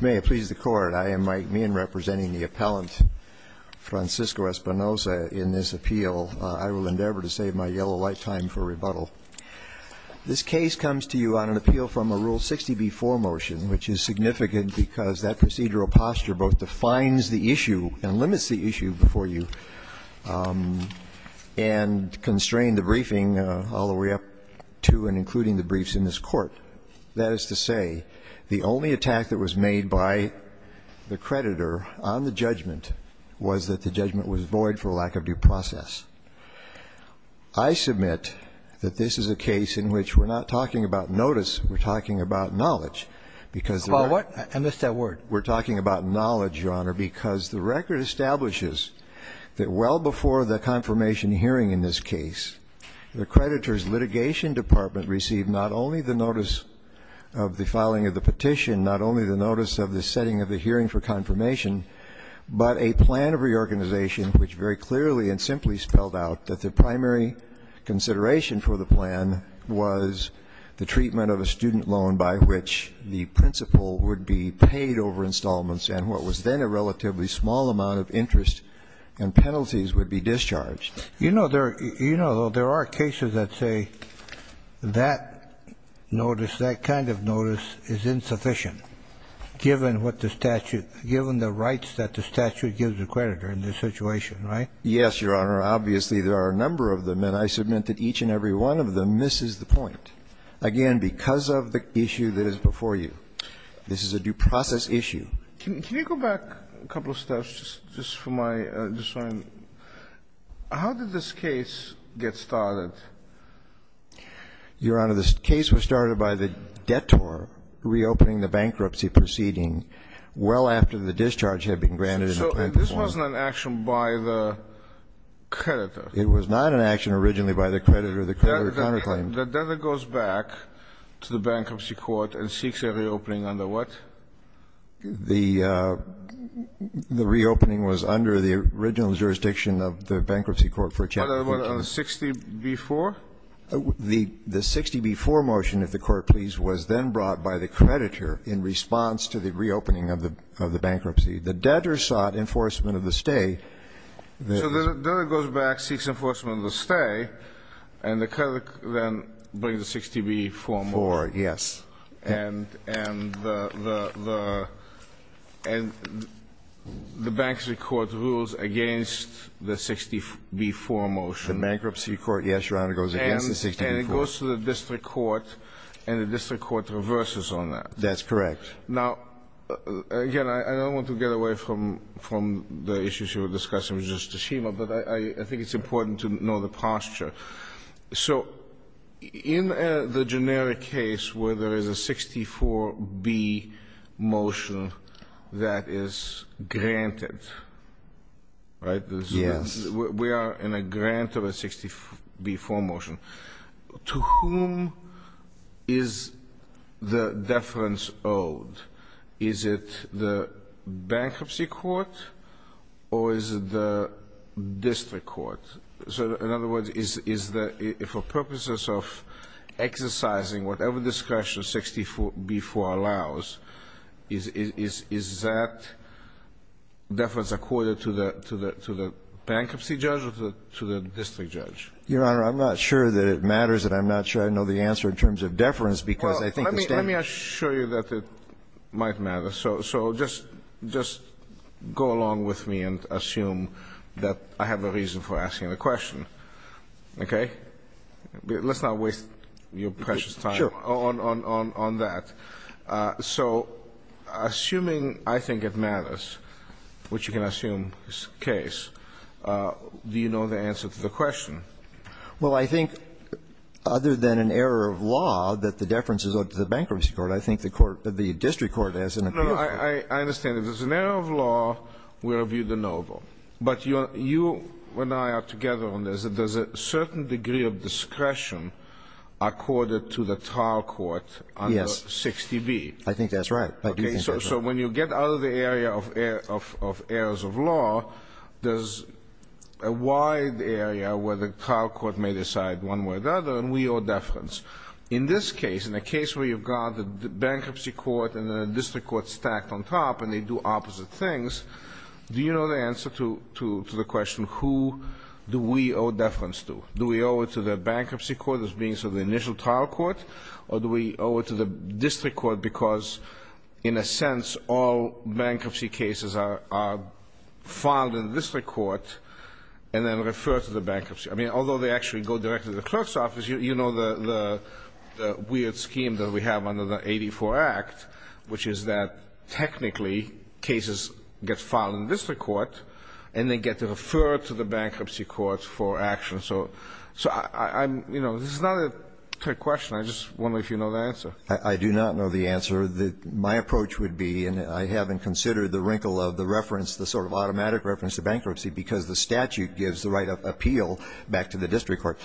May it please the Court, I am Mike Meehan representing the appellant Francisco Espinosa in this appeal. I will endeavor to save my yellow lifetime for rebuttal. This case comes to you on an appeal from a Rule 60b-4 motion, which is significant because that procedural posture both defines the issue and limits the issue before you and constrain the briefing all the way up to and including the briefs in this court. That is to say, the only attack that was made by the creditor on the judgment was that the judgment was void for a lack of due process. I submit that this is a case in which we're not talking about notice, we're talking about knowledge, because the record Well, what? I missed that word. We're talking about knowledge, Your Honor, because the record establishes that well before the confirmation hearing in this case, the creditor's litigation department received not only the notice of the filing of the petition, not only the notice of the setting of the hearing for confirmation, but a plan of reorganization, which very clearly and simply spelled out that the primary consideration for the plan was the treatment of a student loan by which the principal would be paid over installments. And what was then a relatively small amount of interest and penalties would be discharged. You know there are cases that say that notice, that kind of notice is insufficient. Given what the statute, given the rights that the statute gives the creditor in this situation, right? Yes, Your Honor. Obviously, there are a number of them, and I submit that each and every one of them misses the point. Again, because of the issue that is before you. This is a due process issue. Can you go back a couple of steps just for my, just for my, how did this case get started? Your Honor, this case was started by the debtor reopening the bankruptcy proceeding well after the discharge had been granted. So this wasn't an action by the creditor. It was not an action originally by the creditor, the creditor counterclaimed. The debtor goes back to the bankruptcy court and seeks a reopening under what? The reopening was under the original jurisdiction of the bankruptcy court for a check. What, on 60B4? The 60B4 motion, if the court please, was then brought by the creditor in response to the reopening of the bankruptcy. The debtor sought enforcement of the stay. So the debtor goes back, seeks enforcement of the stay, and the creditor then brings the 60B4 motion. Four, yes. And the bankruptcy court rules against the 60B4 motion. The bankruptcy court, yes, Your Honor, goes against the 60B4. And it goes to the district court, and the district court reverses on that. That's correct. Now, again, I don't want to get away from the issues you were discussing with Justice Schema, but I think it's important to know the posture. So in the generic case where there is a 64B motion that is granted, right? Yes. We are in a grant of a 60B4 motion. To whom is the deference owed? Is it the bankruptcy court, or is it the district court? So in other words, is the, for purposes of exercising whatever discussion 60B4 allows, is that deference accorded to the bankruptcy judge or to the district judge? Your Honor, I'm not sure that it matters, and I'm not sure I know the answer in terms of deference, because I think the state- Let me assure you that it might matter. So just go along with me and assume that I have a reason for asking the question, okay? Let's not waste your precious time on that. So assuming I think it matters, which you can assume is the case, do you know the answer to the question? Well, I think other than an error of law that the deference is owed to the bankruptcy court, I think the court, the district court has an- No, I understand. If it's an error of law, we'll review the NOVO. But you and I are together on this. There's a certain degree of discretion accorded to the trial court under 60B. I think that's right. I do think that's right. Okay, so when you get out of the area of errors of law, there's a wide area where the trial court may decide one way or the other, and we owe deference. In this case, in a case where you've got the bankruptcy court and the district court stacked on top and they do opposite things, do you know the answer to the question, who do we owe deference to? Do we owe it to the bankruptcy court as being sort of the initial trial court? Or do we owe it to the district court because, in a sense, all bankruptcy cases are filed in district court and then refer to the bankruptcy? I mean, although they actually go directly to the clerk's office, you know the weird scheme that we have under the 84 Act, which is that technically cases get filed in district court and they get to refer to the bankruptcy court for action. So this is not a trick question. I just wonder if you know the answer. I do not know the answer. My approach would be, and I haven't considered the wrinkle of the reference, the sort of automatic reference to bankruptcy because the statute gives the right of appeal back to the district court.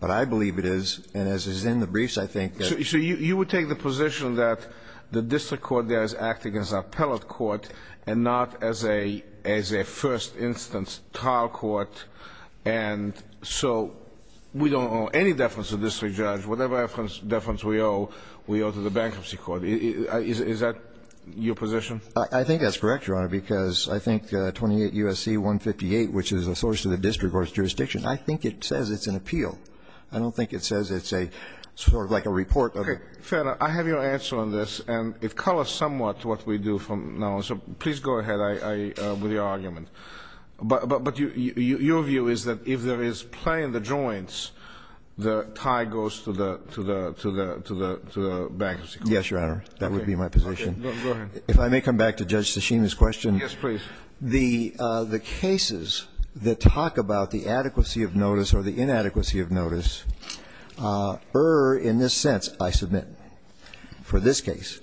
But I believe it is, and as is in the briefs, I think that- So you would take the position that the district court there is acting as an appellate court and not as a first instance trial court, and so we don't owe any deference to the district judge, whatever deference we owe, we owe to the bankruptcy court, is that your position? I think that's correct, Your Honor, because I think 28 USC 158, which is a source to the district court's jurisdiction, I think it says it's an appeal. I don't think it says it's a, sort of like a report. Okay, fair enough. I have your answer on this, and it colors somewhat what we do from now on, so please go ahead with your argument. But your view is that if there is play in the joints, the tie goes to the bankruptcy court. Yes, Your Honor, that would be my position. Okay, go ahead. If I may come back to Judge Tasheem's question. Yes, please. The cases that talk about the adequacy of notice or the inadequacy of notice are, in this sense, I submit, for this case.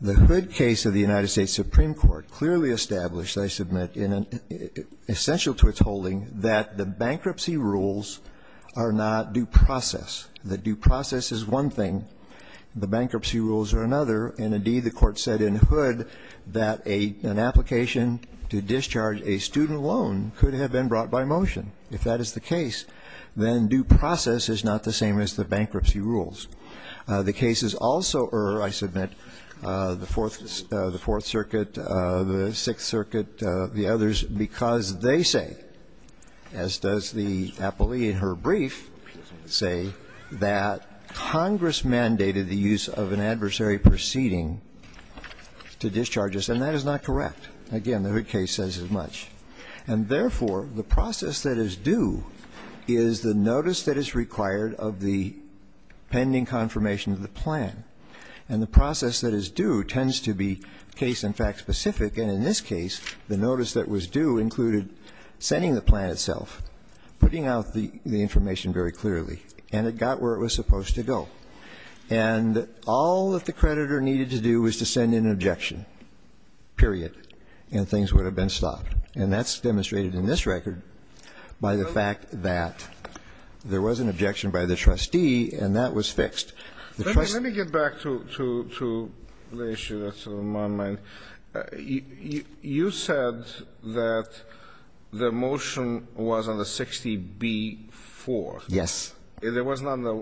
The Hood case of the United States Supreme Court clearly established, I submit, essential to its holding, that the bankruptcy rules are not due process. That due process is one thing, the bankruptcy rules are another. And indeed, the court said in Hood that an application to discharge a student loan could have been brought by motion. If that is the case, then due process is not the same as the bankruptcy rules. The cases also are, I submit, the Fourth Circuit, the Sixth Circuit, the others, because they say, as does the appellee in her brief, say that Congress mandated the use of an adversary proceeding to discharge us. And that is not correct. Again, the Hood case says as much. And therefore, the process that is due is the notice that is required of the pending confirmation of the plan. And the process that is due tends to be case and fact specific. And in this case, the notice that was due included sending the plan itself, putting out the information very clearly, and it got where it was supposed to go. And all that the creditor needed to do was to send an objection, period, and things would have been stopped. And that's demonstrated in this record by the fact that there was an objection by the trustee, and that was fixed. The trustee- Let me get back to the issue that's on my mind. You said that the motion was on the 60B4. Yes. It wasn't on the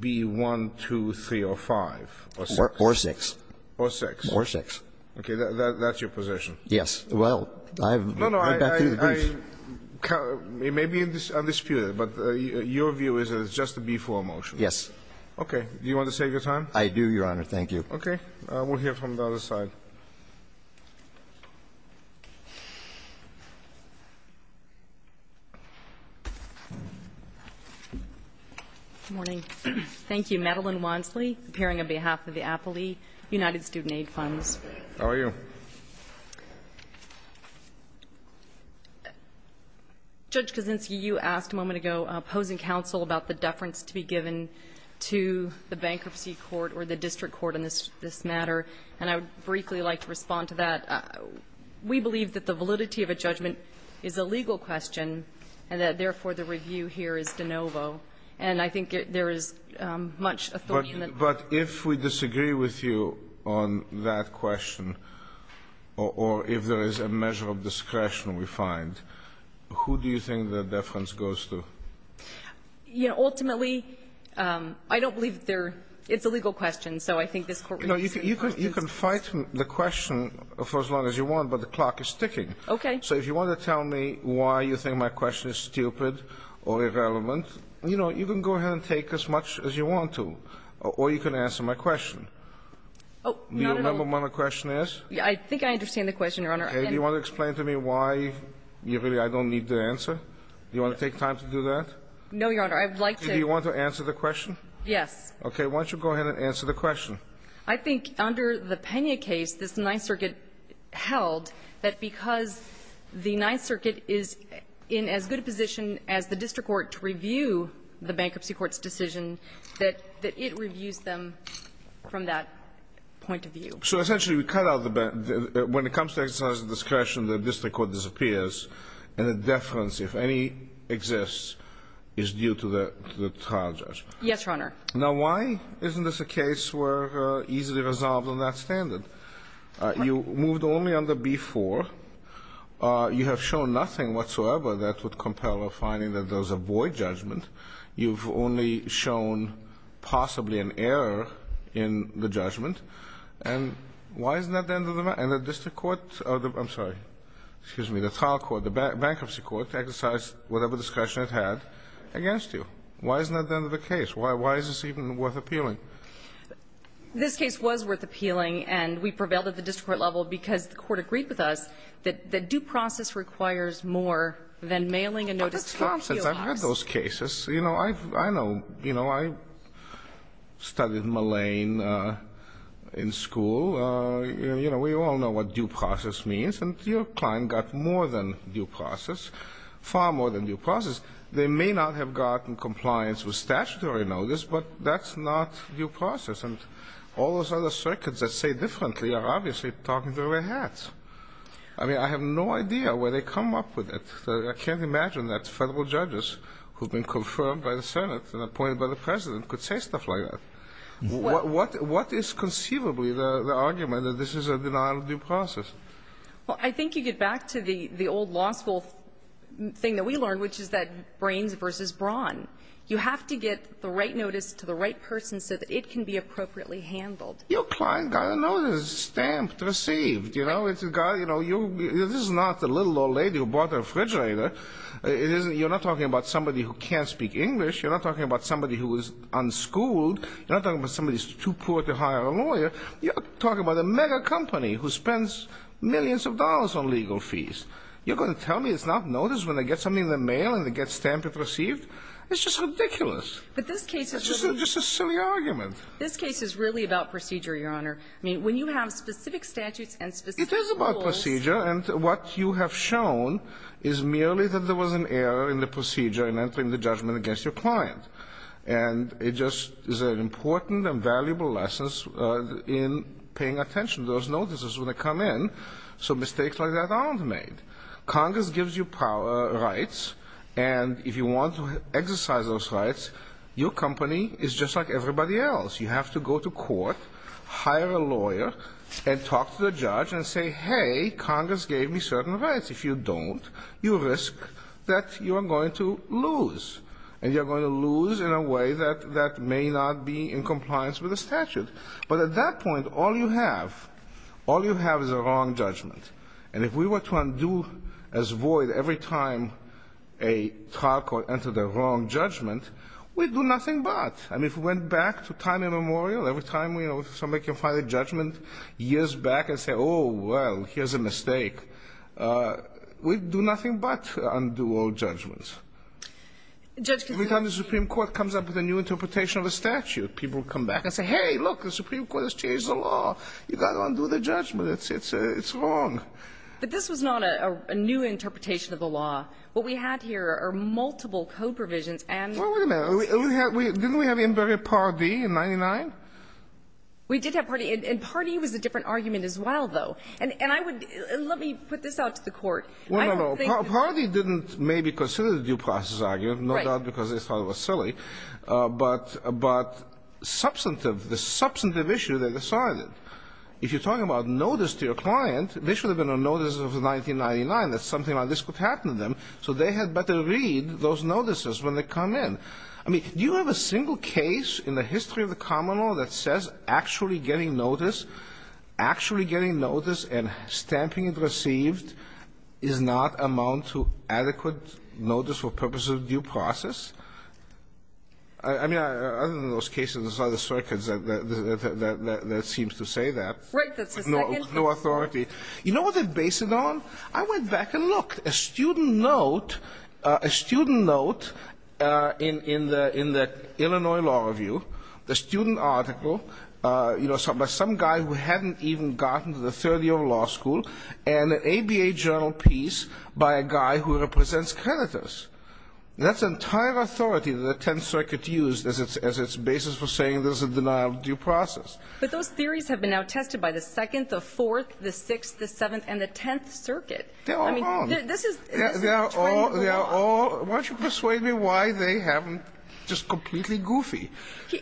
B1, 2, 3, or 5, or 6. Or 6. Or 6. Or 6. Okay, that's your position. Yes. Well, I have- No, no, I- I- I- It may be undisputed, but your view is that it's just a B4 motion? Yes. Okay. Do you want to save your time? I do, Your Honor. Thank you. Okay. We'll hear from the other side. Good morning. Thank you. Madeline Wansley, appearing on behalf of the Appley United Student Aid Funds. How are you? Judge Kaczynski, you asked a moment ago, posing counsel about the deference to be given to the bankruptcy court or the district court on this matter. And I would briefly like to respond to that. We believe that the validity of a judgment is a legal question, and that, therefore, the review here is de novo. And I think there is much authority in the- But if we disagree with you on that question, or if there is a measure of discretion we find, who do you think the deference goes to? You know, ultimately, I don't believe there --it's a legal question. So I think this Court- You can fight the question for as long as you want, but the clock is ticking. Okay. So if you want to tell me why you think my question is stupid or irrelevant, you know, you can go ahead and take as much as you want to. Or you can answer my question. Not at all. Do you remember what my question is? I think I understand the question, Your Honor. Do you want to explain to me why I don't need the answer? Do you want to take time to do that? No, Your Honor. I would like to- Do you want to answer the question? Yes. Okay. Why don't you go ahead and answer the question? I think under the Pena case, this Ninth Circuit held that because the Ninth Circuit is in as good a position as the district court to review the bankruptcy court's decision, that it reviews them from that point of view. So essentially we cut out the bank- When it comes to exercise of discretion, the district court disappears, and the deference, if any, exists, is due to the trial judge. Yes, Your Honor. Now why isn't this a case where easily resolved on that standard? You moved only under B4. You have shown nothing whatsoever that would compel a finding that does avoid judgment. You've only shown possibly an error in the judgment. And why isn't that the end of the matter? And the district court, I'm sorry, excuse me, the trial court, the bankruptcy court exercised whatever discretion it had against you. Why isn't that the end of the case? Why is this even worth appealing? This case was worth appealing, and we prevailed at the district court level because the court agreed with us that due process requires more than mailing a notice to a appeal box. But that's nonsense. I've heard those cases. You know, I know, you know, I studied malign in school. You know, we all know what due process means, and your client got more than due process, far more than due process. They may not have gotten compliance with statutory notice, but that's not due process. And all those other circuits that say differently are obviously talking through their hats. I mean, I have no idea where they come up with it. I can't imagine that federal judges who have been confirmed by the Senate and appointed by the President could say stuff like that. What is conceivably the argument that this is a denial of due process? Well, I think you get back to the old law school thing that we learned, which is that brains versus brawn. You have to get the right notice to the right person so that it can be appropriately handled. Your client got a notice, stamped, received. You know, it's got, you know, you, this is not the little old lady who bought the refrigerator. It isn't, you're not talking about somebody who can't speak English. You're not talking about somebody who is unschooled. You're not talking about somebody who's too poor to hire a lawyer. You're talking about a mega company who spends millions of dollars on legal fees. You're going to tell me it's not notice when they get something in the mail and they get stamped and received? It's just ridiculous. It's just a silly argument. This case is really about procedure, Your Honor. I mean, when you have specific statutes and specific rules. It is about procedure, and what you have shown is merely that there was an error in the procedure in entering the judgment against your client. And it just is an important and valuable lesson in paying attention to those notices when they come in, so mistakes like that aren't made. Congress gives you rights, and if you want to exercise those rights, your company is just like everybody else. You have to go to court, hire a lawyer, and talk to the judge and say, hey, Congress gave me certain rights. If you don't, you risk that you are going to lose, and you're going to lose in a way that may not be in compliance with the statute. But at that point, all you have, all you have is a wrong judgment. And if we were to undo as void every time a trial court entered a wrong judgment, we'd do nothing but. I mean, if we went back to time immemorial, every time, you know, somebody can find a judgment years back and say, oh, well, here's a mistake, we'd do nothing but undo all judgments. Judgment. Every time the Supreme Court comes up with a new interpretation of a statute, people come back and say, hey, look, the Supreme Court has changed the law. You've got to undo the judgment. It's wrong. But this was not a new interpretation of the law. What we had here are multiple code provisions and. Well, wait a minute. Didn't we have in very Part D in 99? We did have Part D. And Part D was a different argument as well, though. And I would, let me put this out to the Court. Well, no, no. Part D didn't maybe consider the due process argument, no doubt, because they thought it was silly. But substantive, the substantive issue, they decided. If you're talking about notice to your client, they should have been on notice of 1999, that something like this could happen to them, so they had better read those notices when they come in. I mean, do you have a single case in the history of the common law that says actually getting notice, actually getting notice and stamping it received does not amount to adequate notice for purposes of due process? I mean, other than those cases, there's other circuits that seems to say that. Right. That's the second. No authority. You know what they based it on? I went back and looked. A student note, a student note in the Illinois Law Review, the student article, you know, by some guy who hadn't even gotten to the third year of law school, and an ABA journal piece by a guy who represents creditors. That's entire authority that the Tenth Circuit used as its basis for saying there's a denial of due process. But those theories have been now tested by the Second, the Fourth, the Sixth, the Seventh, and the Tenth Circuit. They're all wrong. I mean, this is the trend going on. Why don't you persuade me why they haven't just completely goofy,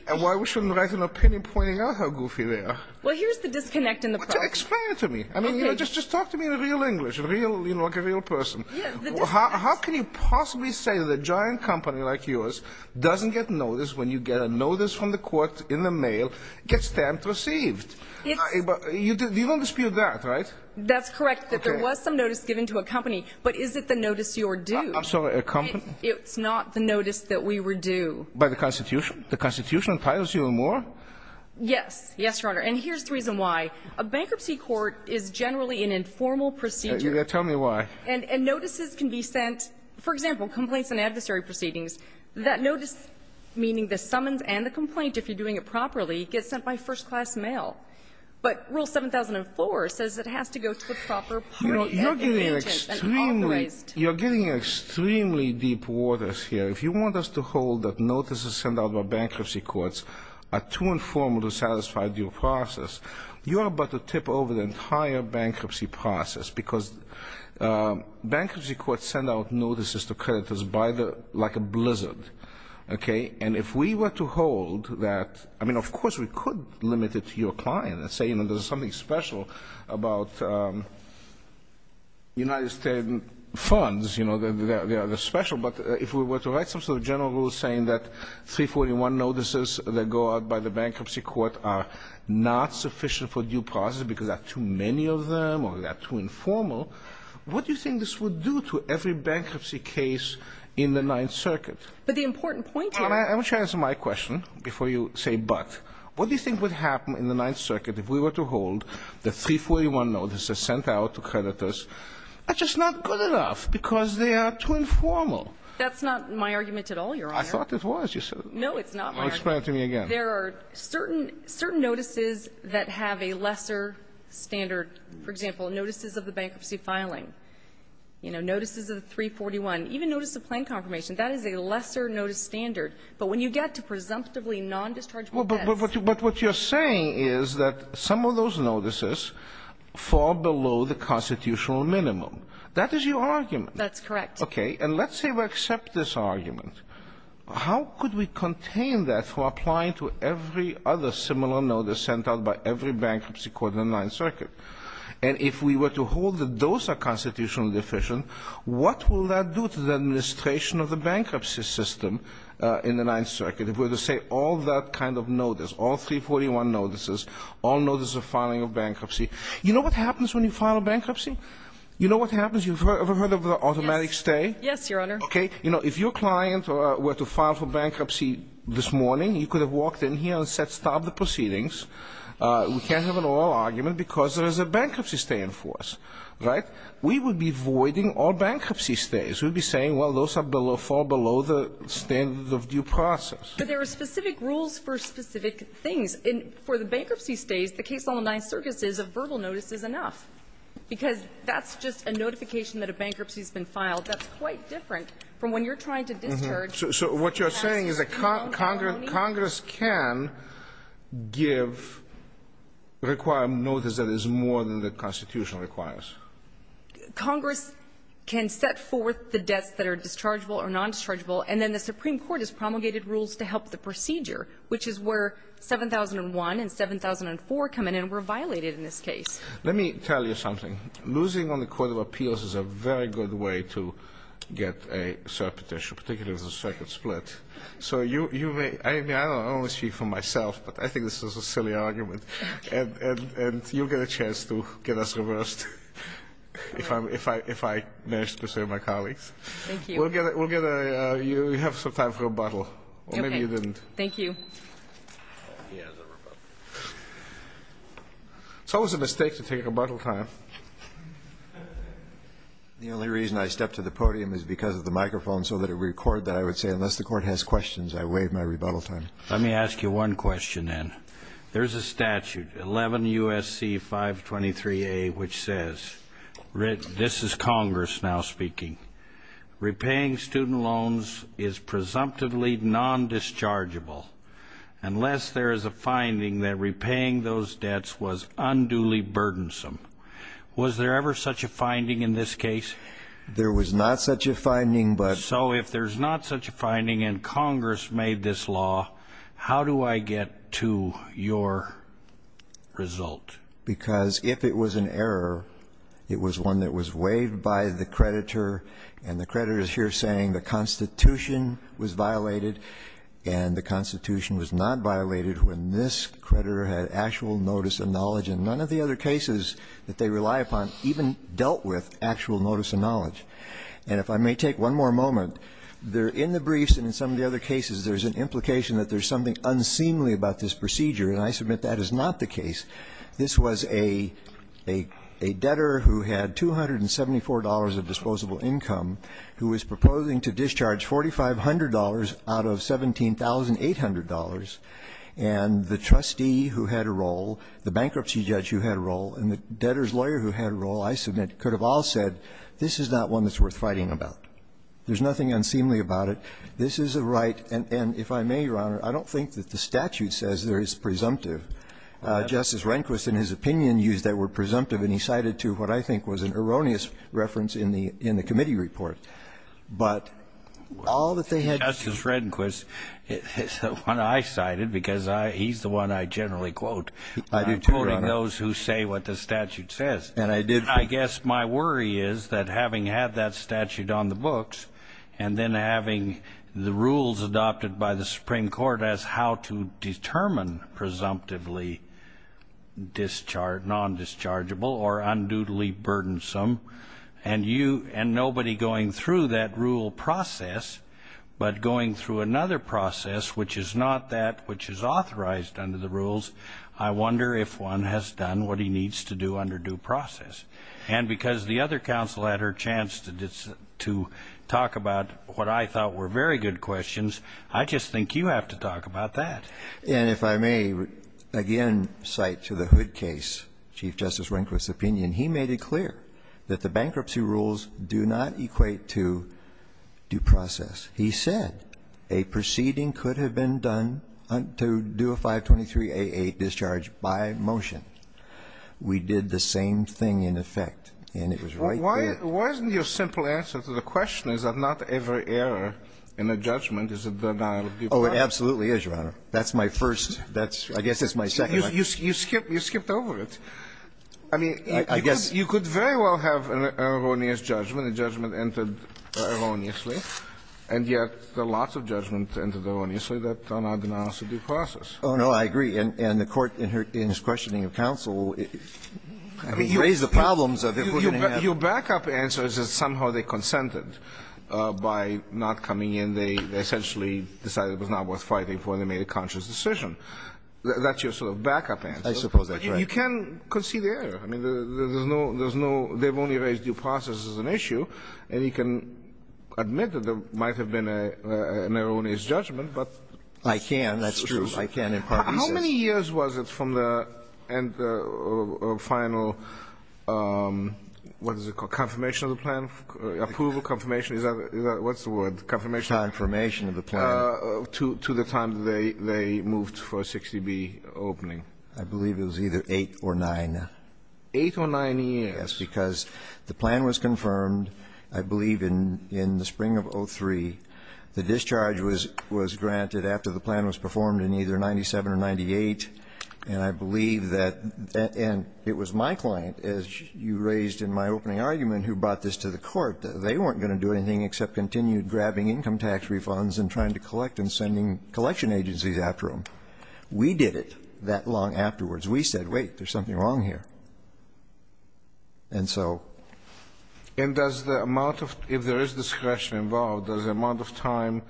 and why we shouldn't write an opinion pointing out how goofy they are? Well, here's the disconnect in the process. Explain it to me. I mean, you know, just talk to me in real English, real, you know, like a real person. Yeah, the disconnect. Well, how can you possibly say that a giant company like yours doesn't get notice when you get a notice from the court in the mail, gets stamped, received? You don't dispute that, right? That's correct, that there was some notice given to a company. But is it the notice you're due? I'm sorry, a company? It's not the notice that we were due. By the Constitution? The Constitution imposes you more? Yes. Yes, Your Honor. And here's the reason why. A bankruptcy court is generally an informal procedure. Yeah, tell me why. And notices can be sent, for example, complaints and adversary proceedings. That notice, meaning the summons and the complaint, if you're doing it properly, gets sent by first-class mail. But Rule 7004 says it has to go to a proper party. You're getting extremely deep waters here. If you want us to hold that notices sent out by bankruptcy courts are too informal to satisfy due process, you're about to tip over the entire bankruptcy process, because bankruptcy courts send out notices to creditors like a blizzard. And if we were to hold that, I mean, of course, we could limit it to your client and say there's something special about United States funds, they're special. But if we were to write some sort of general rule saying that 341 notices that go out by the bankruptcy court are not sufficient for due process because there are too many of them or they are too informal, what do you think this would do to every bankruptcy case in the Ninth Circuit? But the important point here – I want you to answer my question before you say but. What do you think would happen in the Ninth Circuit if we were to hold that 341 notices sent out to creditors are just not good enough because they are too informal? That's not my argument at all, Your Honor. I thought it was. You said – No, it's not my argument. Well, explain it to me again. There are certain – certain notices that have a lesser standard. For example, notices of the bankruptcy filing, you know, notices of the 341. Even notice of plan confirmation, that is a lesser notice standard. But when you get to presumptively non-dischargeable debts – But what you're saying is that some of those notices fall below the constitutional minimum. That is your argument. That's correct. Okay. And let's say we accept this argument. How could we contain that from applying to every other similar notice sent out by every bankruptcy court in the Ninth Circuit? And if we were to hold that those are constitutionally deficient, what will that do to the administration of the bankruptcy system in the Ninth Circuit if we were to say all that kind of notice, all 341 notices, all notices of filing of bankruptcy – You know what happens when you file a bankruptcy? You know what happens? You ever heard of the automatic stay? Yes, Your Honor. Okay. You know, if your client were to file for bankruptcy this morning, he could have walked in here and said, stop the proceedings. We can't have an oral argument because there is a bankruptcy stay in force, right? We would be voiding all bankruptcy stays. We would be saying, well, those fall below the standard of due process. But there are specific rules for specific things. And for the bankruptcy stays, the case on the Ninth Circuit says a verbal notice is enough, because that's just a notification that a bankruptcy has been filed. That's quite different from when you're trying to discharge a bankruptcy. So what you're saying is that Congress can give, require a notice that is more than the Constitution requires. Congress can set forth the debts that are dischargeable or non-dischargeable. And then the Supreme Court has promulgated rules to help the procedure, which is where 7001 and 7004 come in and were violated in this case. Let me tell you something. Losing on the Court of Appeals is a very good way to get a cert petition, particularly as a second split. So you may, I only speak for myself, but I think this is a silly argument. And you'll get a chance to get us reversed if I manage to persuade my colleagues. Thank you. You have some time for rebuttal. Or maybe you didn't. Thank you. He has a rebuttal. So it was a mistake to take rebuttal time. The only reason I stepped to the podium is because of the microphone, so that it would record that I would say, unless the court has questions, I waive my rebuttal time. Let me ask you one question then. There's a statute, 11 U.S.C. 523A, which says, this is Congress now speaking, repaying student loans is presumptively non-dischargeable unless there is a finding that repaying those debts was unduly burdensome. Was there ever such a finding in this case? There was not such a finding, but. So if there's not such a finding and Congress made this law, how do I get to your result? Because if it was an error, it was one that was waived by the creditor. And the creditor is here saying the Constitution was violated. And the Constitution was not violated when this creditor had actual notice and knowledge. And none of the other cases that they rely upon even dealt with actual notice and knowledge. And if I may take one more moment, there in the briefs and in some of the other cases, there's an implication that there's something unseemly about this procedure. And I submit that is not the case. This was a debtor who had $274 of disposable income, who was proposing to discharge $4,500 out of $17,800. And the trustee who had a role, the bankruptcy judge who had a role, and the debtor's lawyer who had a role, I submit, could have all said, this is not one that's worth fighting about. There's nothing unseemly about it. This is a right, and if I may, Your Honor, I don't think that the statute says there is presumptive. Justice Rehnquist, in his opinion, used that word presumptive, and he cited to what I think was an erroneous reference in the committee report. But all that they had- Justice Rehnquist is the one I cited because he's the one I generally quote. I do too, Your Honor. And I'm quoting those who say what the statute says. And I did- I guess my worry is that having had that statute on the books, and then having the rules adopted by the Supreme Court as how to determine presumptively non-dischargeable or unduly burdensome. And nobody going through that rule process, but going through another process which is not that which is authorized under the rules. I wonder if one has done what he needs to do under due process. And because the other counsel had her chance to talk about what I thought were very good questions. I just think you have to talk about that. And if I may again cite to the Hood case, Chief Justice Rehnquist's opinion. He made it clear that the bankruptcy rules do not equate to due process. He said a proceeding could have been done to do a 523A8 discharge by motion. We did the same thing in effect. And it was right there. Why isn't your simple answer to the question is that not every error in a judgment is a denial of due process? Oh, it absolutely is, Your Honor. That's my first. That's my second. You skipped over it. I mean, you could very well have an erroneous judgment, a judgment entered erroneously. And yet, lots of judgments entered erroneously that are not denials of due process. Oh, no, I agree. And the Court, in her questioning of counsel, I mean, raised the problems of it. Your back-up answer is that somehow they consented by not coming in. They essentially decided it was not worth fighting for, and they made a conscious decision. That's your sort of back-up answer. I suppose that's right. But you can concede the error. I mean, there's no – they've only raised due process as an issue. And you can admit that there might have been an erroneous judgment, but it's erroneous. I can, that's true. I can impart thesis. How many years was it from the final – what is it called – confirmation of the plan? Approval, confirmation? Is that – what's the word? Confirmation? Confirmation of the plan. To the time that they moved for a 60B opening. I believe it was either eight or nine. Eight or nine years. Yes, because the plan was confirmed, I believe, in the spring of 2003. The discharge was granted after the plan was performed in either 97 or 98. And I believe that – and it was my client, as you raised in my opening argument, who brought this to the court, that they weren't going to do anything except continue grabbing income tax refunds and trying to collect and sending collection agencies after them. We did it that long afterwards. We said, wait, there's something wrong here. And so. And does the amount of – if there is discretion involved, does the amount of time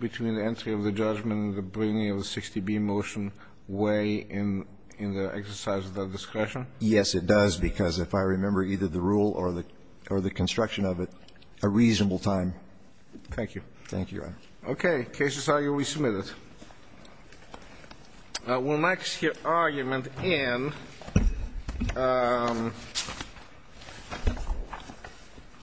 between the entry of the judgment and the bringing of the 60B motion weigh in the exercise of that discretion? Yes, it does, because if I remember either the rule or the construction of it, a reasonable time. Thank you. Thank you, Your Honor. Okay. Case is argued. We submit it. We'll next hear argument in.